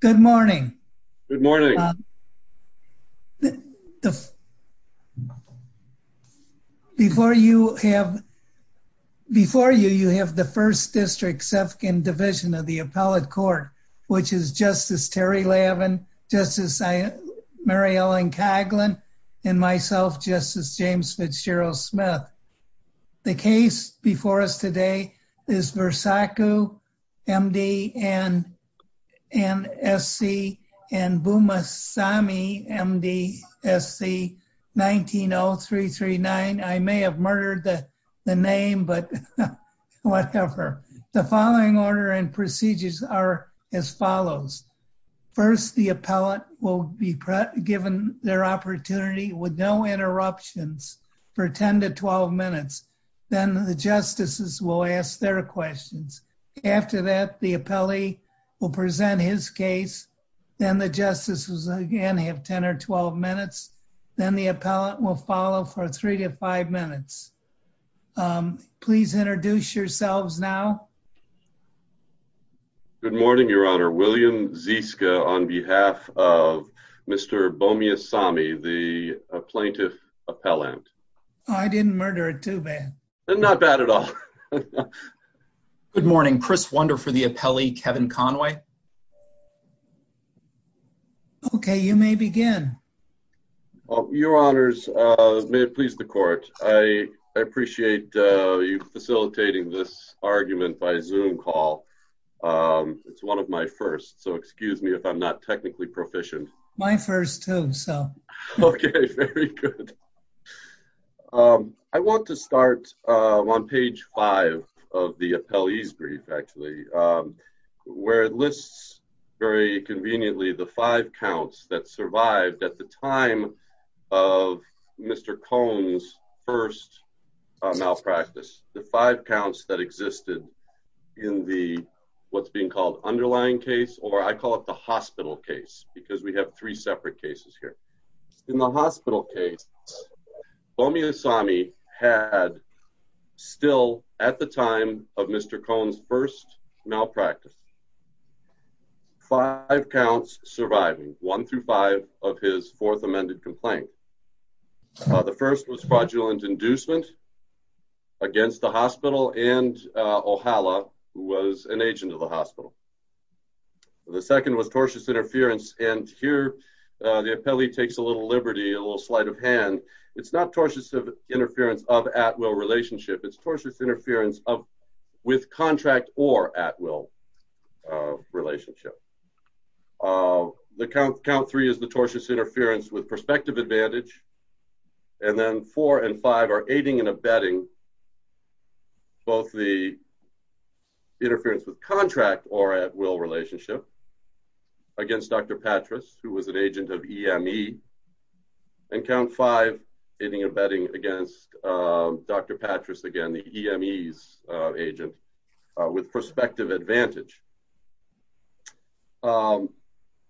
Good morning. Good morning. The Before you have Before you, you have the First District Sefkin Division of the Appellate Court which is Justice Terry Lavin, Justice Mary Ellen Kaglin, and myself, Justice James Fitzgerald Smith. The case before us today is Versace, MD, NSC, and Buma Sami, MD, SC 19-0339 I may have murdered the name, but whatever. The following order and procedures are as follows. First, the appellate will be given their opportunity with no interruptions for 10-12 minutes. Then the justices will ask their questions. After that, the appellee will present his case. Then the justices again have 10-12 minutes. Then the appellant will follow for 3-5 minutes. Please introduce yourselves now. Good morning, Your Honor. William Ziska on behalf of Mr. Bomiya Sami, the plaintiff appellant. I didn't murder it too bad. Not bad at all. Good morning. Chris Wunder for the appellee, Kevin Conway. Okay, you may begin. Your Honors, may it please the Court, I appreciate you facilitating this argument by Zoom call. It's one of my first, so excuse me if I'm not technically proficient. My first too, so. Okay, very good. I want to start on page five of the appellee's brief, actually, where it lists very conveniently the five counts that survived at the time of Mr. Cohn's first malpractice. The five counts that existed in the what's being called underlying case or I call it the hospital case because we have three separate cases here. In the hospital case, Bomiya Sami had still at the time of Mr. Cohn's first malpractice five counts surviving, one through five of his fourth amended complaint. The first was fraudulent inducement against the hospital and O'Hala, who was an agent of the hospital. The second was tortious interference and here the appellee takes a little liberty, a little sleight of hand. It's not tortious interference of at-will relationship. It's tortious interference with contract or at-will relationship. Count three is the tortious interference with perspective advantage and then four and five are aiding and abetting both the interference with contract or at-will relationship against Dr. Patras, who was an agent of EME and count five, aiding and abetting against Dr. Patras, again the EME's agent with perspective advantage.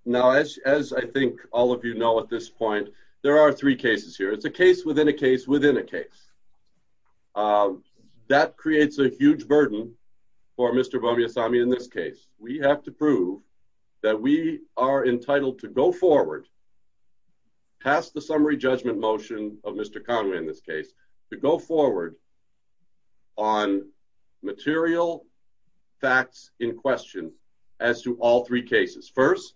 Now, as I think all of you know at this point, there are three cases here. It's a case within a case within a case. That creates a huge burden for Mr. Bomiassami in this case. We have to prove that we are entitled to go forward past the summary judgment motion of Mr. Conway in this case to go forward on material facts in question as to all three cases. First,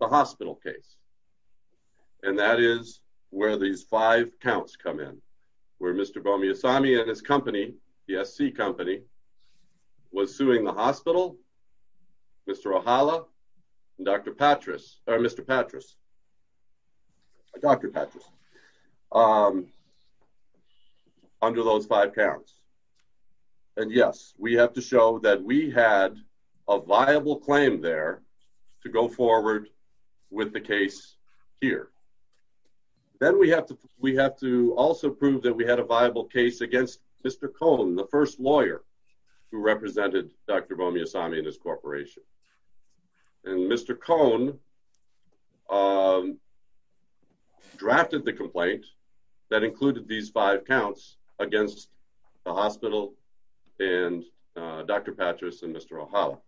the hospital case and that is where these five counts come in, where Mr. Bomiassami and his company, the person pursuing the hospital, Mr. Ohala, and Dr. Patras, Dr. Patras, under those five counts. And yes, we have to show that we had a viable claim there to go forward with the case here. Then we have to also prove that we had a viable case against Mr. Cone, the first lawyer who represented Dr. Bomiassami and his corporation. And Mr. Cone drafted the complaint that included these five counts against the hospital and Dr. Patras and Mr. Ohala.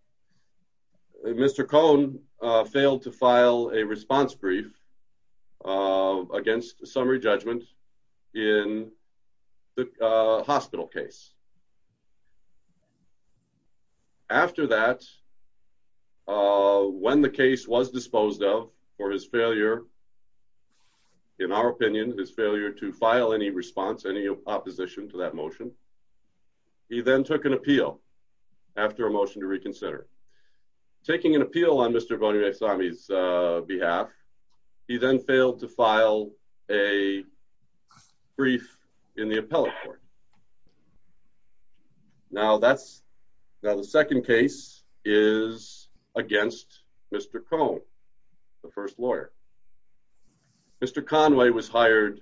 Mr. Cone failed to file a response brief against summary judgment in the hospital case. After that, when the case was disposed of for his failure, in our opinion, his failure to file any response, any opposition to that motion, he then took an appeal after a motion to reconsider. Taking an appeal on Mr. Bomiassami's behalf, he then failed to file a brief in the appellate court. Now the second case is against Mr. Cone, the first lawyer. Mr. Conway was hired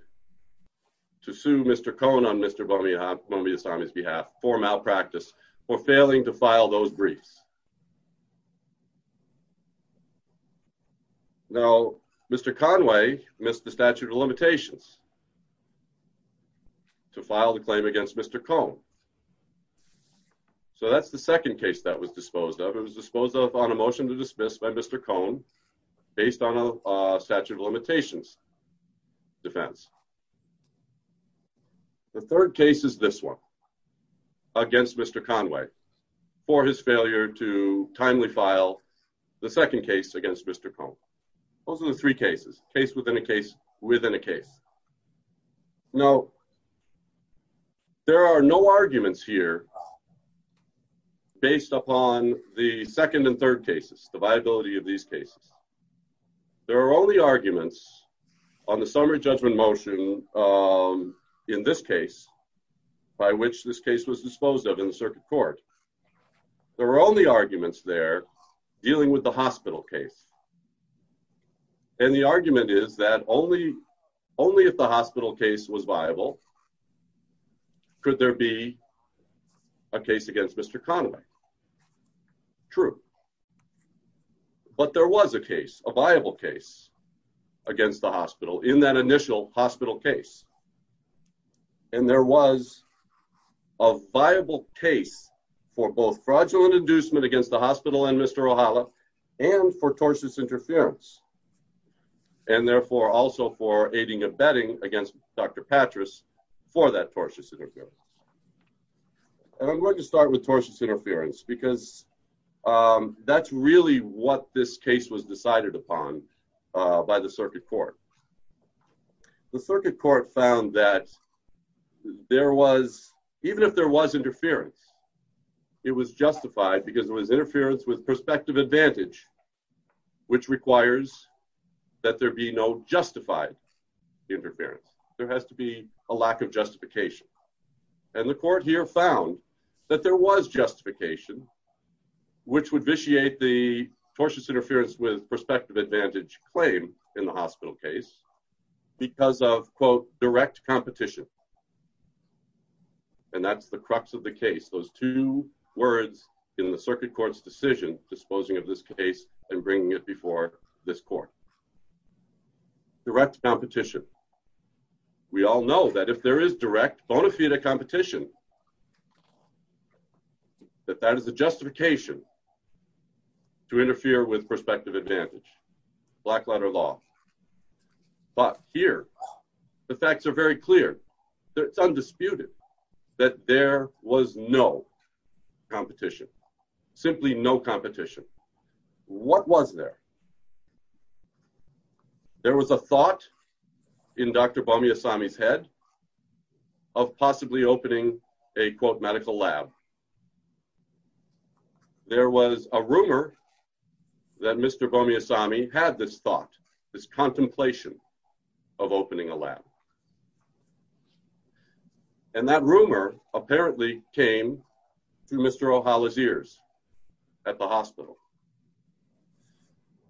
to sue Mr. Cone on Mr. Bomiassami's behalf for malpractice for failing to file those briefs. Now, Mr. Conway missed the statute of limitations the claim against Mr. Cone. So that's the second case that was disposed of. It was disposed of on a motion to dismiss by Mr. Cone based on a statute of limitations defense. The third case is this one against Mr. Conway for his failure to timely file the second case against Mr. Cone. Those are the three cases. Case within a case within a case. Now, there are no arguments here based upon the second and third cases, the viability of these cases. There are only arguments on the summary judgment motion in this case by which this case was disposed of in the circuit court. There were only arguments there dealing with the hospital case. And the argument is that only if the hospital case was viable could there be a case against Mr. Conway. True. But there was a case a viable case against the hospital in that initial hospital case. And there was a viable case for both fraudulent inducement against the hospital and Mr. O'Hala and for tortious interference. And therefore also for aiding and abetting against Dr. Patras for that tortious interference. And I'm going to start with tortious interference because that's really what this case was decided upon by the circuit court. The circuit court found that there was, even if there was interference, it was justified because it was interference with prospective advantage which requires that there be no justified interference. There has to be a lack of justification. And the court here found that there was justification which would vitiate the tortious interference with prospective advantage claim in the hospital case because of, quote, direct competition. And that's the crux of the case. Those two words in the circuit court's decision disposing of this case and bringing it before this court. Direct competition. if there is direct bona fide competition that that is a justification to interfere with prospective advantage. Black letter law. But here, the facts are very clear. It's undisputed that there was no competition. Simply no competition. What was there? There was a thought in Dr. Bamiasami's head of possibly opening a, quote, medical lab. There was a rumor that Mr. Bamiasami had this thought, this contemplation of opening a lab. And that rumor apparently came to Mr. O'Hala's ears at the hospital.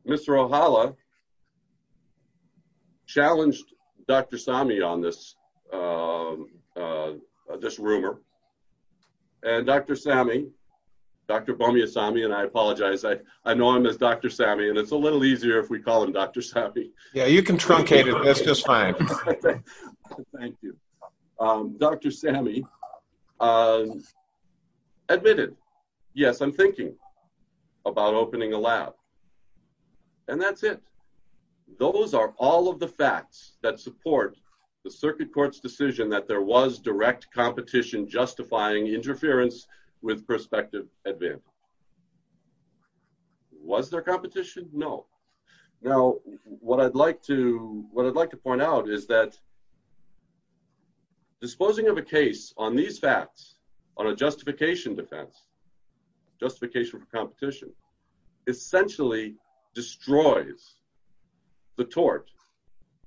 Mr. O'Hala challenged Dr. Sami on this rumor. And Dr. Sami Dr. Bamiasami, and I apologize, I know him as Dr. Sami, and it's a little easier if we call him Dr. Sami. Yeah, you can truncate it. That's just fine. Thank you. Dr. Sami admitted, yes, I'm thinking about opening a lab. And that's it. Those are all of the facts that support the circuit court's decision that there was direct competition justifying interference with prospective advantage. Was there competition? No. Now, what I'd like to point out is that disposing of a case on these facts, on a justification defense, justification for competition, essentially destroys the tort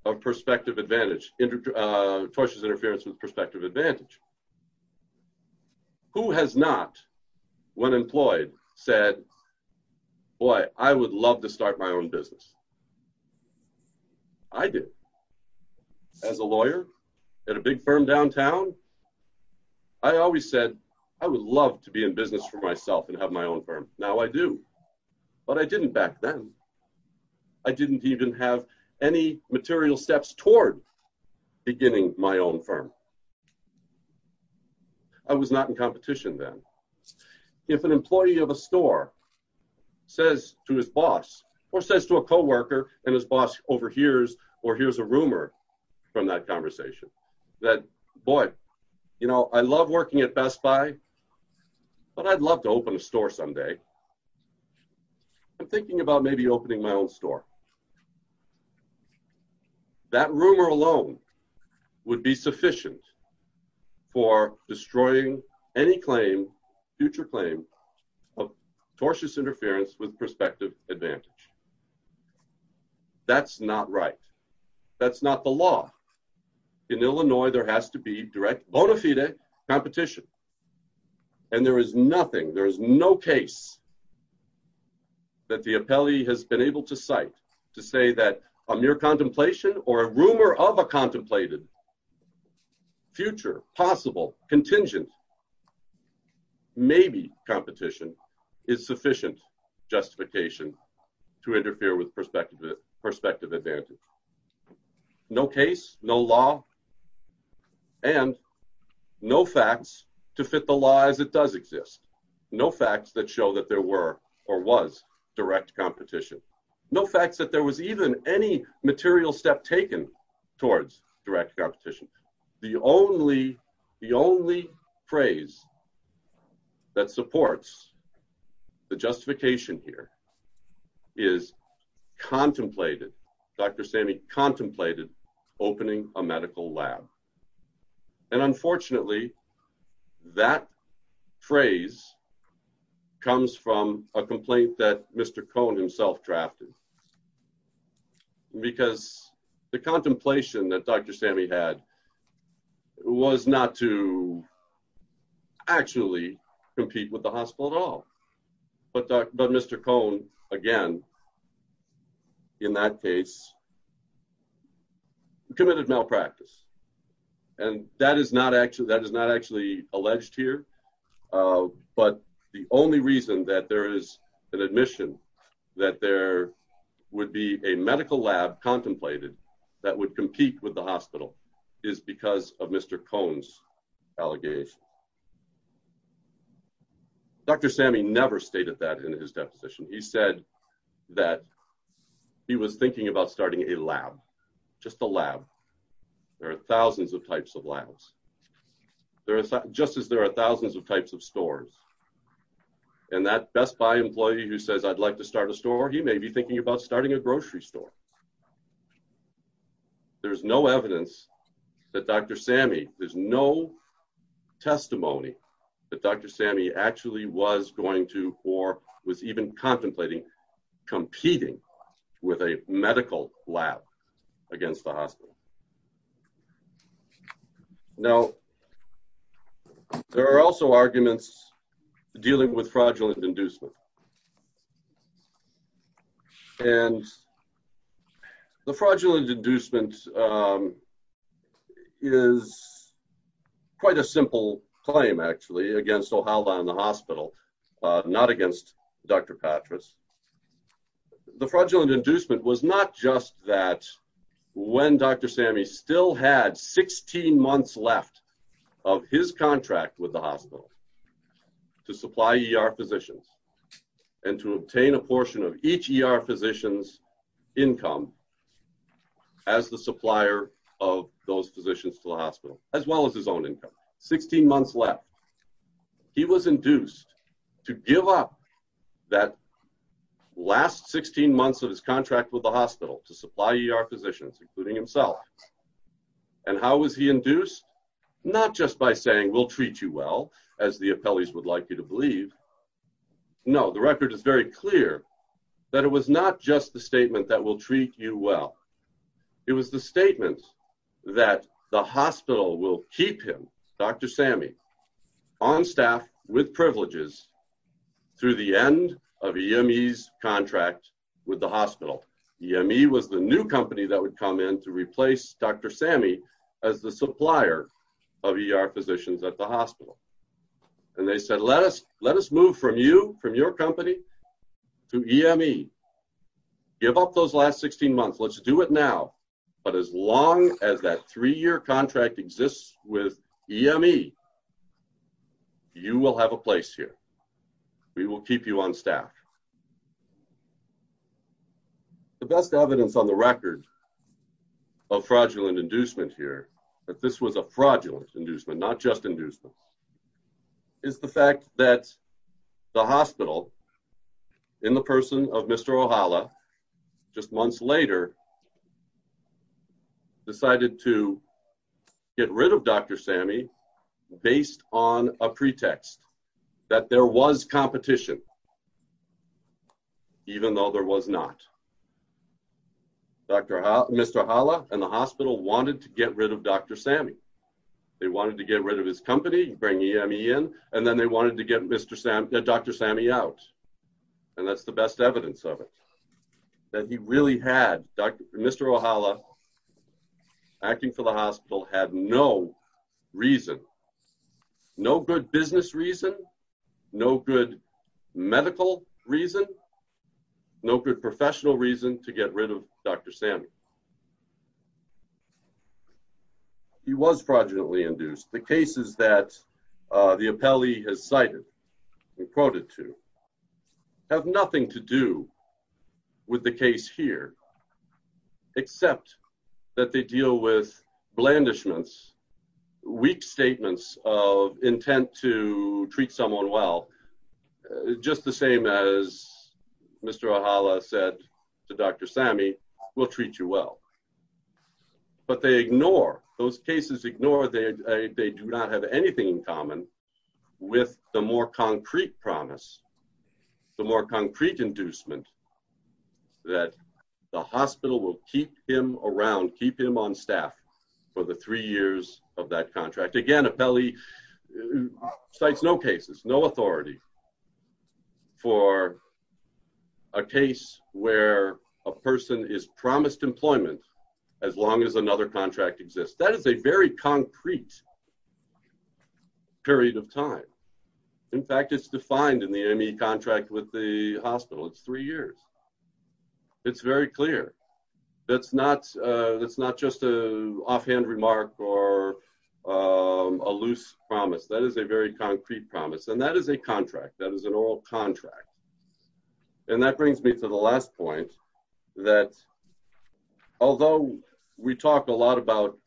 of prospective advantage, tortious interference with prospective advantage. Who has not, when employed, said, boy, I would love to start my own business? I did. As a lawyer at a big firm downtown, I always said, I would love to be in business for myself and have my own firm. Now I do. But I didn't back then. I didn't even have any beginning my own firm. I was not in competition then. If an employee of a store says to his boss or says to a co-worker, and his boss overhears or hears a rumor from that conversation that, boy, I love working at Best Buy, but I'd love to open a store someday. I'm thinking about maybe opening my own store. Now, that rumor alone would be sufficient for destroying any claim, future claim, of tortious interference with prospective advantage. That's not right. That's not the law. In Illinois, there has to be direct bona fide competition. And there is nothing, there is no case that the appellee has been able to cite to say that a mere contemplation or a rumor of a contemplated future possible contingent maybe competition is sufficient justification to interfere with prospective advantage. No case, no law, and no facts to fit the law as it does exist. No facts that show that there were or was direct competition. No facts that there was even any material step taken towards direct competition. The only, the only phrase that supports the justification here is contemplated. Dr. Sammy contemplated opening a medical lab. And unfortunately, that phrase comes from a complaint that Mr. Cohn himself drafted. Because the contemplation that Dr. Sammy had was not to actually compete with the hospital at all. But Mr. Cohn, again, in that case, committed malpractice. And that is not actually, alleged here. But the only reason that there is an admission that there would be a medical lab contemplated that would compete with the hospital is because of Mr. Cohn's allegation. Dr. Sammy never stated that in his deposition. He said that he was thinking about starting a lab. Just a lab. There are thousands of types of just as there are thousands of types of stores. And that Best Buy employee who says, I'd like to start a store, he may be thinking about starting a grocery store. There's no evidence that Dr. Sammy, there's no testimony that Dr. Sammy actually was going to or was even contemplating competing with a medical lab against the hospital. Now, there are also arguments dealing with fraudulent inducement. And the fraudulent inducement is quite a simple claim, actually, against Ohalda and the hospital, not against Dr. Patras. The fraudulent inducement was not just that when Dr. Sammy still had 16 months left of his contract with the hospital to supply ER physicians and to obtain a portion of each ER physician's income as the supplier of those physicians to the hospital, as well as his own income. 16 months left. He was induced to give up that last 16 months of his contract with the hospital to supply ER physicians, including himself. And how was he induced? Not just by saying, we'll treat you well, as the appellees would like you to believe. No, the record is very clear that it was not just the statement that we'll treat you well. It was the statement that the hospital will keep him, Dr. Sammy, on staff with privileges through the end of EME's contract with the hospital. EME was the new company that would come in to replace Dr. Sammy as the supplier of ER physicians at the hospital. And they said, let us move from you, from your company, to EME. Give up those last 16 months. Let's do it now. But as long as that three-year contract exists with EME, you will have a place here. We will keep you on staff. The best evidence on the record of fraudulent inducement here, that this was a fraudulent inducement, not just inducement, is the fact that the hospital, in the person of Mr. O'Hala, just months later, decided to get rid of Dr. Sammy based on a pretext that there was competition, even though there was not. Mr. O'Hala and the hospital wanted to get rid of Dr. Sammy. They wanted to get rid of his company, bring EME in, and then they wanted to get Dr. Sammy out. And that's the best evidence of it. That he really had, Mr. O'Hala, acting for the hospital, had no reason, no good business reason, no good medical reason, no good professional reason to get rid of Dr. Sammy. He was fraudulently induced. The cases that the appellee has cited and quoted to have nothing to do with the case here, except that they deal with blandishments, weak statements of intent to treat someone well, just the same as Mr. O'Hala said to Dr. Sammy, we'll treat you well. But they ignore, those cases ignore they do not have anything in common with the more concrete promise, the more concrete inducement that the hospital will keep him around, keep him on staff for the three years of that contract. Again, appellee cites no cases, no authority for a case where a person is promised employment as long as another contract exists. That is a very concrete period of time. In fact, it's defined in the ME contract with the hospital. It's three years. It's very clear. That's not just an offhand remark or a loose promise. That is a very concrete promise. And that is a contract. That is an oral contract. And that brings me to the last point that although we talk a lot about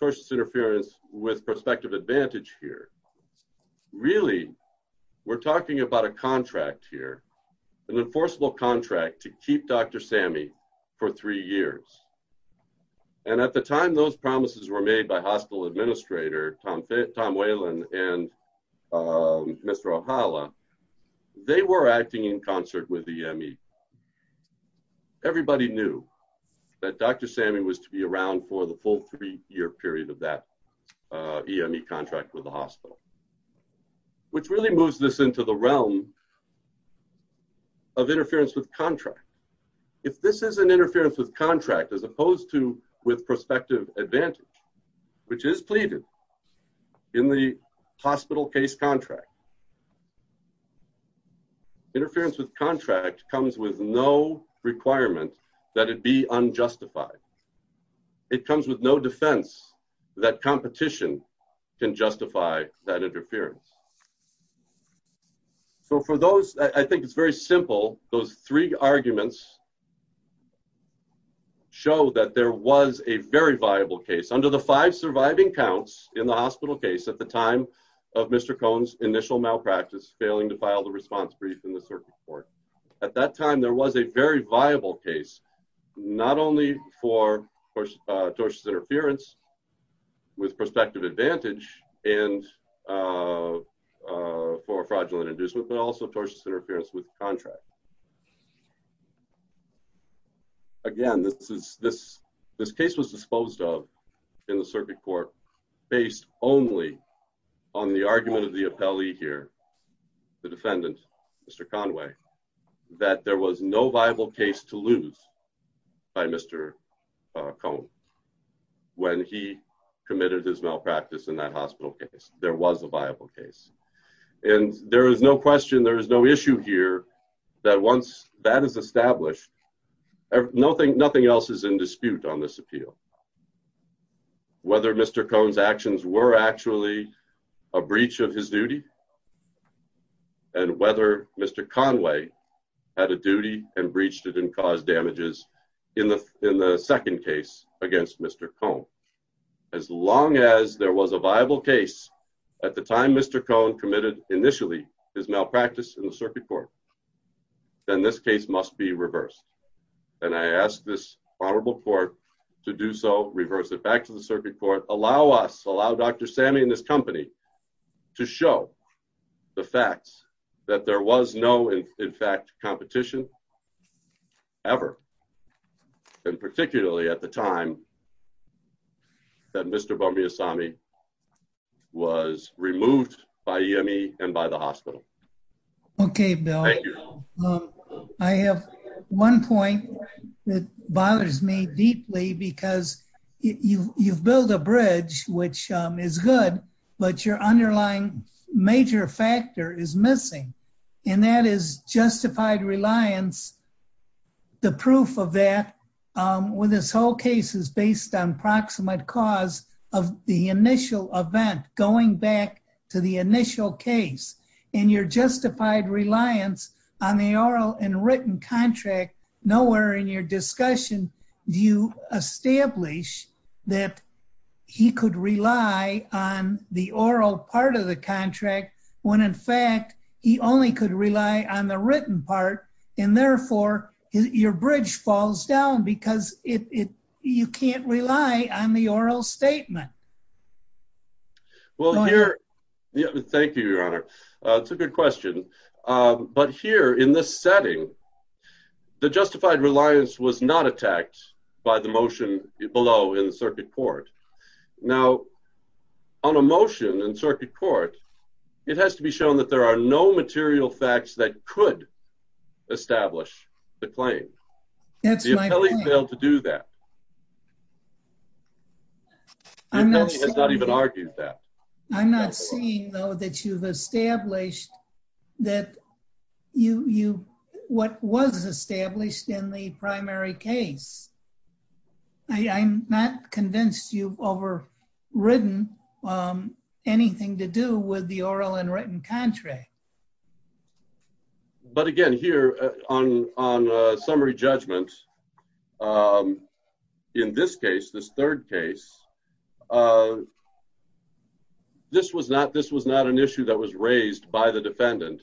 tortious interference with prospective advantage here, really we're talking about a contract here, an enforceable contract to keep Dr. Sammy for three years. And at the time those promises were made by hospital administrator Tom Whalen and Mr. O'Hala, they were acting in concert with EME. Everybody knew that Dr. Sammy was to be around for the full three-year period of that EME contract with the hospital, which really moves this into the realm of interference with contract. If this is an interference with contract as opposed to with prospective advantage, which is pleaded in the hospital case contract, interference with contract comes with no requirement that it be unjustified. It comes with no defense that competition can justify that interference. So for those, I think it's very simple. Those three arguments show that there was a very viable case under the five surviving counts in the hospital case at the time of Mr. Cohn's initial malpractice, failing to file the response brief in the circuit court. At that time, there was a very viable case, not only for tortious interference with prospective advantage and for fraudulent inducement, but also tortious interference with contract. Again, this case was disposed of in the circuit court based only on the argument of the appellee here, the defendant, Mr. Conway, that there was no viable case to lose by Mr. Cohn when he committed his malpractice in that hospital case. There was a viable case. And there is no question, there is no issue here that once that is established, nothing else is in dispute on this appeal. Whether Mr. Cohn's actions were actually a breach of his duty and whether Mr. Conway had a duty and breached it and caused damages in the second case against Mr. Cohn. As long as there was a viable case at the time Mr. Cohn committed initially his malpractice in the circuit court, then this case must be reversed. And I ask this honorable court to do so, reverse it back to the circuit court, allow us, allow Dr. Sammi and this company to show the facts that there was no, in fact, competition ever. And particularly at the time that Mr. Bambiassami was removed by Yemi and by the hospital. Okay, Bill. I have one point that bothers me deeply because you've built a bridge which is good, but your underlying major factor is missing. And that is justified reliance, the proof of that with this whole case is based on proximate cause of the initial event going back to the initial case. And your justified reliance on the oral and written contract nowhere in your discussion do you establish that he could rely on the oral part of the contract when in fact he only could rely on the written part and therefore your bridge falls down because you can't rely on the oral statement. Well, here... Thank you, Your Honor. It's a good question. But here in this setting the justified reliance was not attacked by the motion below in the circuit court. Now, on a motion in circuit court, it has to be shown that there are no material facts that could establish the claim. That's my point. The appellee failed to do that. The appellee has not even argued that. I'm not seeing though that you've established that you... what was established in the primary case. I'm not convinced you've over written anything to do with the oral and written contract. But again, here on a summary judgment in this case, this third case, this was not an issue that was raised by the defendant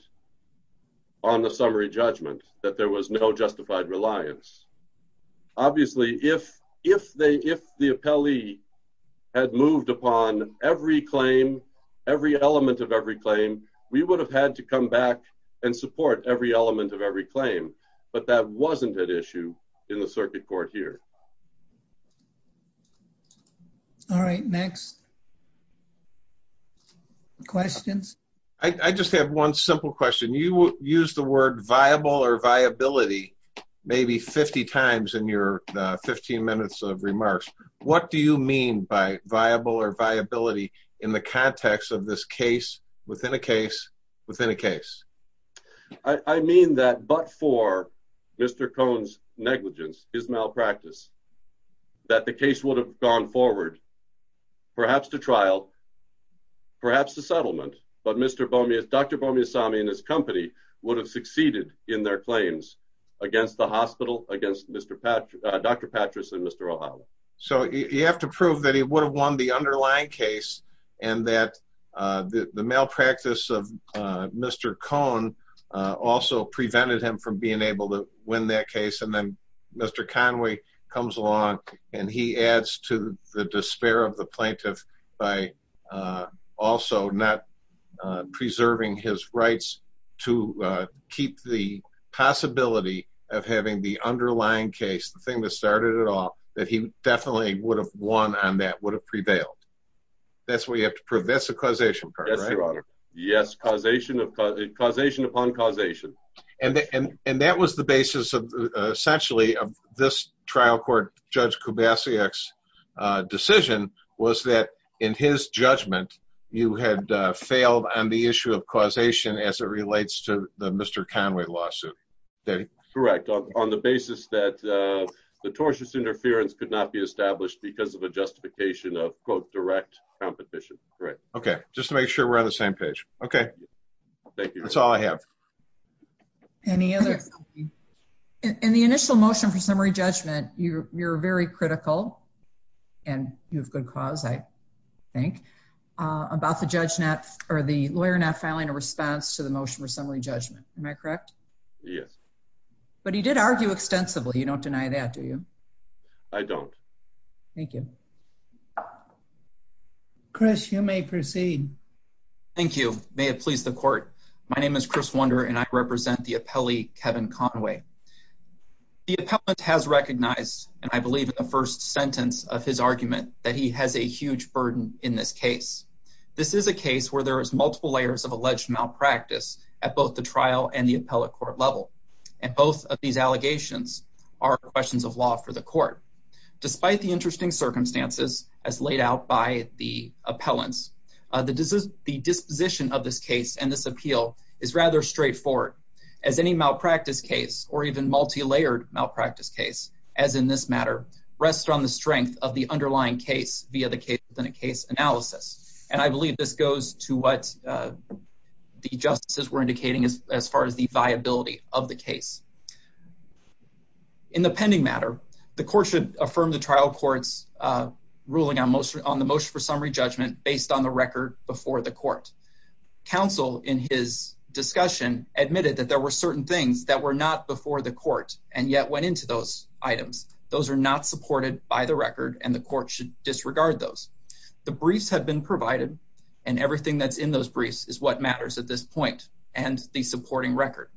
on the summary judgment that there was no justified reliance. Obviously, if the appellee had moved upon every claim, every element of every claim, we would have had to come back and support every element of every claim. But that wasn't an issue in the circuit court here. All right. Next. Questions? I just have one simple question. You used the word viable or viability maybe 50 times in your 15 minutes of remarks. What do you mean by viable or viability in the context of this case, within a case, within a case? I mean that but for Mr. Cohn's negligence, his malpractice, that the case would have gone forward perhaps to trial, perhaps to settlement, but Dr. Bomiassami and his company would have succeeded in their claims against the hospital, against Dr. Patras and Mr. O'Hara. So you have to prove that he would have won the underlying case and that the malpractice of Mr. Cohn also prevented him from being able to win that case and then Mr. Conway comes along and he adds to the despair of the plaintiff by also not preserving his rights to keep the possibility of having the underlying case, the thing that started it all, that he definitely would have won on that, would have prevailed. That's what you have to prove. That's the causation part, right? Yes, causation upon causation. And that was the basis of essentially of this trial court Judge Kubasiak's decision was that in his judgment you had failed on the issue of causation as it relates to the Mr. Conway lawsuit. Correct. On the basis that the tortious interference could not be established because of a justification of, quote, direct competition. Correct. Okay. Just to make sure we're on the same page. Okay. Thank you. That's all I have. Any other... In the initial motion for summary judgment, you're very critical and you have good cause, I think, about the judge not, or the lawyer not filing a response to the motion for summary judgment. Am I correct? Yes. But he did argue extensively. You don't deny that, do you? I don't. Thank you. Chris, you may proceed. Thank you. May it please the court. My name is Chris Wunder and I represent the appellee, Kevin Conway. The appellant has recognized, and I believe in the first sentence of his argument, that he has a huge burden in this case. This is a case where there is multiple layers of alleged malpractice at both the trial and the appellate court level. And both of these allegations are questions of law for the court. Despite the interesting circumstances as laid out by the appellants, the disposition of this case and this appeal is rather straightforward as any malpractice case, or even multi-layered malpractice case, as in this matter, rests on the strength of the underlying case via the case analysis. And I believe this goes to what the justices were indicating as far as the viability of the case. In the pending matter, the court should affirm the trial court's ruling on the motion for summary judgment based on the record before the court. Counsel in his discussion admitted that there were certain things that were not before the court and yet went into those items. Those are not supported by the record and the court should disregard those. The briefs have been provided and everything that's in those briefs is what matters at this point and the supporting record.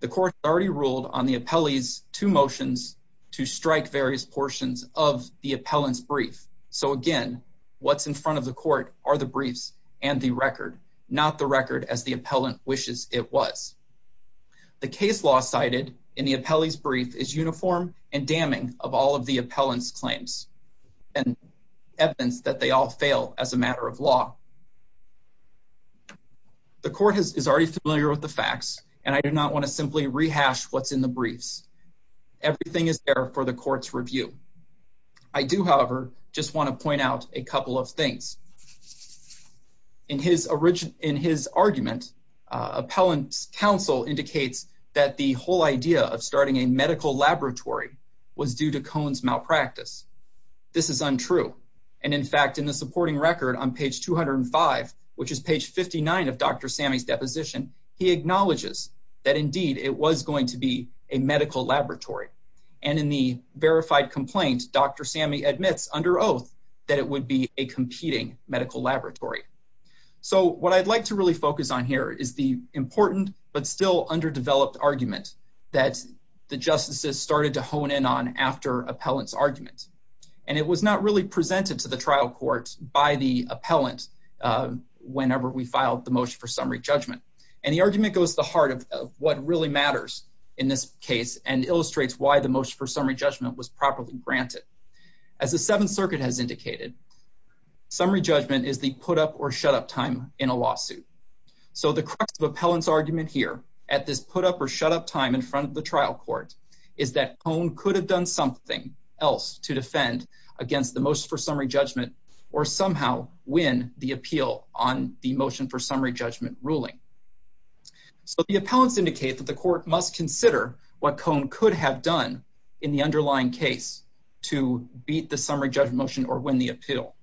The court already ruled on the appellee's two motions to strike various portions of the appellant's brief. So again, what's in front of the court are the briefs and the record, not the record as the appellant wishes it was. The case law cited in the appellee's brief is uniform and damning of all of the appellant's and evidence that they all fail as a matter of law. The court is already familiar with the facts and I do not want to simply rehash what's in the briefs. Everything is there for the court's review. I do, however, just want to point out a couple of things. In his argument, appellant's counsel indicates that the whole idea of starting a medical laboratory was due to Cohen's malpractice. This is untrue. And in fact, in the supporting record on page 205, which is page 59 of Dr. Sammy's deposition, he acknowledges that indeed it was going to be a medical laboratory. And in the verified complaint, Dr. Sammy admits under oath that it would be a competing medical laboratory. What I'd like to really focus on here is the important but still underdeveloped argument that the justices started to hone in on after appellant's argument. And it was not really presented to the trial court by the appellant whenever we filed the motion for summary judgment. And the argument goes to the heart of what really matters in this case and illustrates why the motion for summary judgment was properly granted. As the Seventh Circuit has indicated, summary judgment is the put-up or shut-up time in a lawsuit. So the crux of appellant's argument here, at this put-up or shut-up time in front of the trial court, is that Cone could have done something else to defend against the motion for summary judgment or somehow win the appeal on the motion for summary judgment ruling. So the appellants indicate that the court must consider what Cone could have done in the underlying case to beat the summary judgment motion or win the appeal.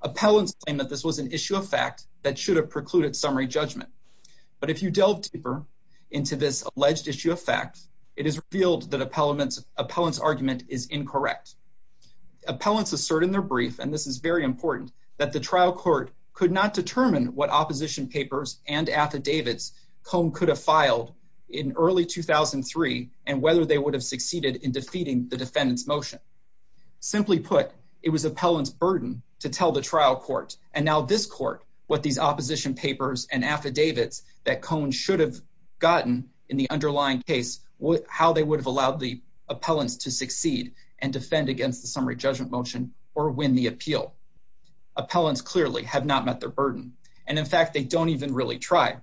Appellants claim that this was an issue of fact that should have precluded summary judgment. But if you delve deeper into this alleged issue of fact, it is revealed that appellants' argument is incorrect. Appellants assert in their brief, and this is very important, that the trial court could not determine what opposition papers and affidavits Cone could have filed in early 2003 and whether they would have succeeded in defeating the defendant's motion. Simply put, it was appellants' burden to tell the trial court, and now this court, what these opposition papers and affidavits that Cone should have gotten in the underlying case, how they would have allowed the appellants to succeed and defend against the summary judgment motion or win the appeal. Appellants clearly have not met their burden, and in fact, they don't even really try.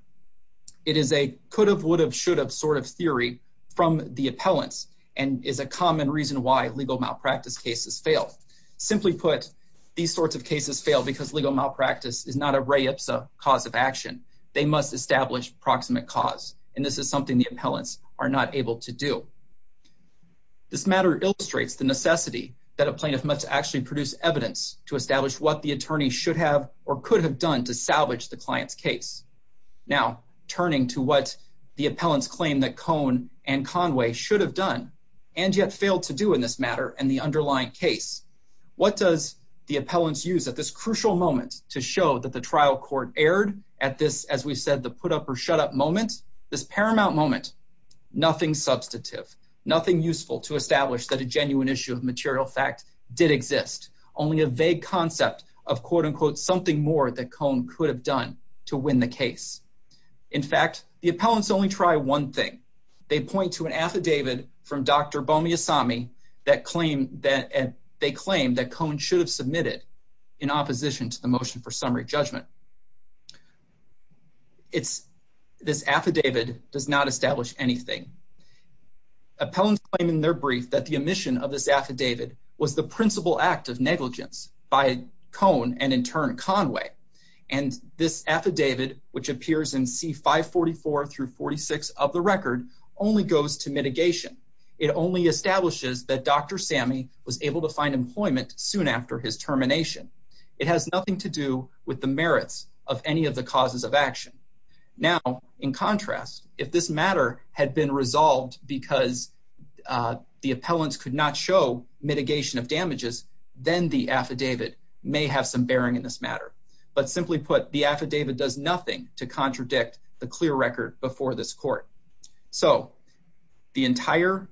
It is a could have, would have, should have sort of theory from the appellants and is a common reason why legal malpractice cases fail. Simply put, these sorts of cases fail because legal malpractice is not a re-IPSA cause of action. They must establish proximate cause, and this is something the appellants are not able to do. This matter illustrates the necessity that a plaintiff must actually produce evidence to establish what the attorney should have or could have done to salvage the client's case. Now, turning to what the appellants claim that Cone and Conway should have done and yet failed to do in this matter and the underlying case, what does the appellants use at this crucial moment to show that the trial court erred at this, as we've said, the put up or shut up moment? This paramount moment, nothing substantive, nothing useful to establish that a genuine issue of material fact did exist, only a vague concept of something more that Cone could have done to win the case. In fact, the appellants only try one thing. They point to an affidavit from Dr. Bomiassami that they claim that Cone should have submitted in opposition to the motion for summary judgment. This affidavit does not establish anything. Appellants claim in their brief that the omission of this affidavit was the principal act of negligence by Cone and in turn Conway, and this affidavit, which appears in C544-46 of the record, only goes to mitigation. It only establishes that Dr. Sami was able to find employment soon after his termination. It has nothing to do with the merits of any of the causes of action. Now, in contrast, if this matter had been resolved because the appellants could not show mitigation of damages, then the affidavit may have some bearing in this matter. But simply put, the affidavit does nothing to contradict the clear record before this court. So, the entire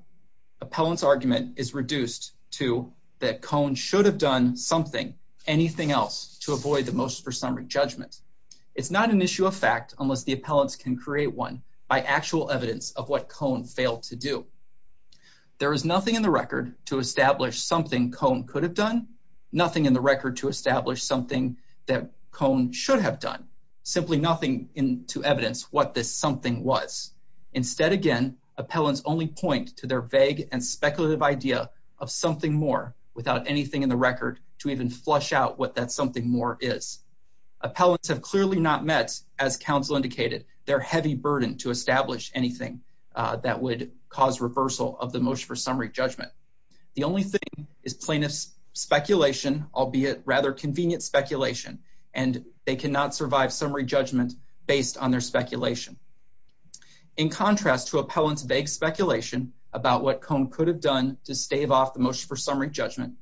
appellant's argument is reduced to that Cone should have done something, anything else, to avoid the motion for summary judgment. It's not an issue of fact unless the appellants can create one by actual evidence of what Cone failed to do. There is nothing in the record to establish something Cone could have done, nothing in the record to establish something that Cone should have done, simply nothing to evidence what this something was. Instead, again, appellants only point to their vague and speculative idea of something more without anything in the record to even flush out what that something more is. Appellants have clearly not met, as counsel indicated, their heavy burden to establish anything that would cause reversal of the motion for summary judgment. The only thing is plaintiff's speculation, albeit rather convenient speculation, and they cannot survive summary judgment based on their speculation. In contrast to appellant's vague speculation about what Cone could have done to stave off the motion for summary judgment,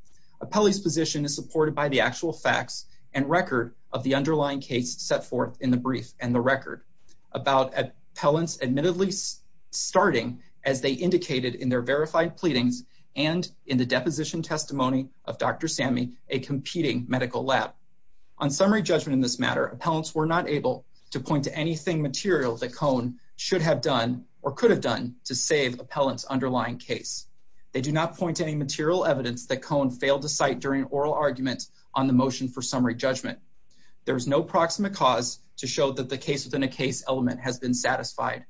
appellee's position is supported by the actual facts and record of the underlying case set forth in the brief and the record about appellants admittedly starting as they indicated in their verified pleadings and in the deposition testimony of Dr. Sammy, a competing medical lab. On summary judgment in this matter, appellants were not able to point to anything material that Cone should have done or could have done to save appellant's underlying case. They do not point to any material evidence that Cone failed to cite during oral argument on the motion for summary judgment. There is no proximate cause to show that the case-within-a-case element has been satisfied.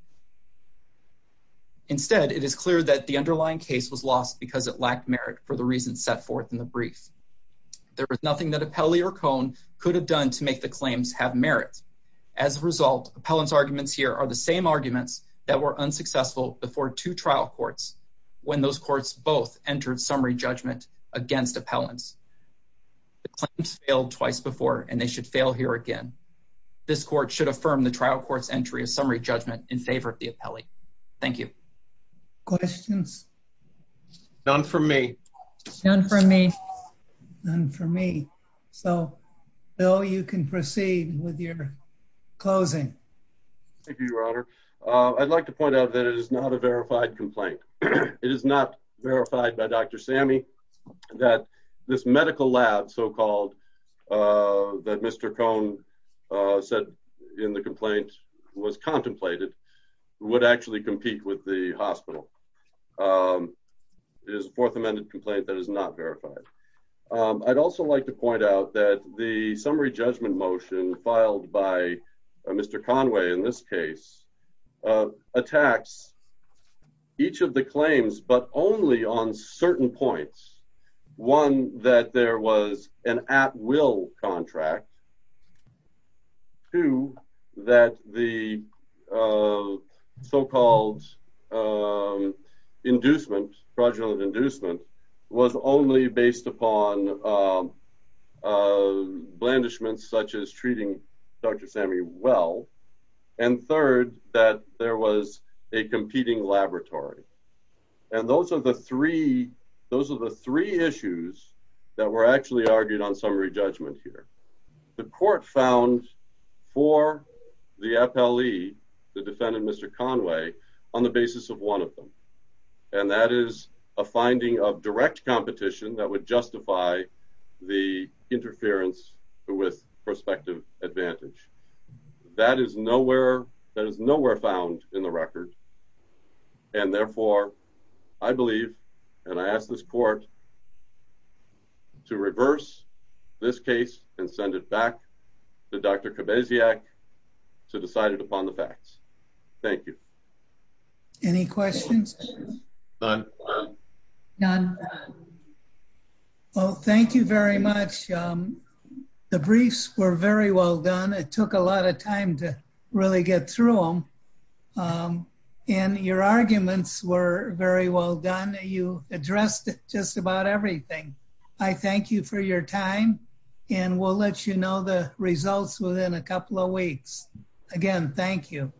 case was lost because it lacked merit for the reasons set forth in the brief. There was nothing that appellee or Cone could have done to make the claims have merit. As a result, appellant's arguments here are the same arguments that were unsuccessful before two trial courts when those courts both entered summary judgment against appellants. The claims failed twice before and they should fail here again. This court should affirm the trial court's entry of summary judgment in favor of the appellee. Thank you. Questions? None from me. None from me. Bill, you can proceed with your closing. Thank you, Your Honor. I'd like to point out that it is not a verified complaint. It is not verified by Dr. Sammy that this medical lab so-called that Mr. Cone said in the complaint was contemplated would actually compete with the hospital. It is a Fourth Amendment complaint that is not verified. I'd also like to point out that the summary judgment motion filed by Mr. Conway in this case attacks each of the claims but only on certain points. One, that there was an at-will contract. Two, that the so-called inducement, fraudulent inducement, was only based upon blandishments such as treating Dr. Sammy well. And third, that there was a competing laboratory. Those are the three issues that were actually argued on summary judgment here. The court found for the appellee, the defendant Mr. Conway, on the basis of one of them. And that is a finding of direct competition that would justify the interference with prospective advantage. That is nowhere found in the record. And therefore, I believe and I ask this court to reverse this case and send it back to Dr. Kabasiak to decide it upon the facts. Thank you. Any questions? None. None. Well, thank you very much. The briefs were very well done. It took a lot of time to really get through them. And your arguments were very well done. You addressed just about everything. I thank you for your time and we'll let you know the results within a couple of weeks. Again, thank you.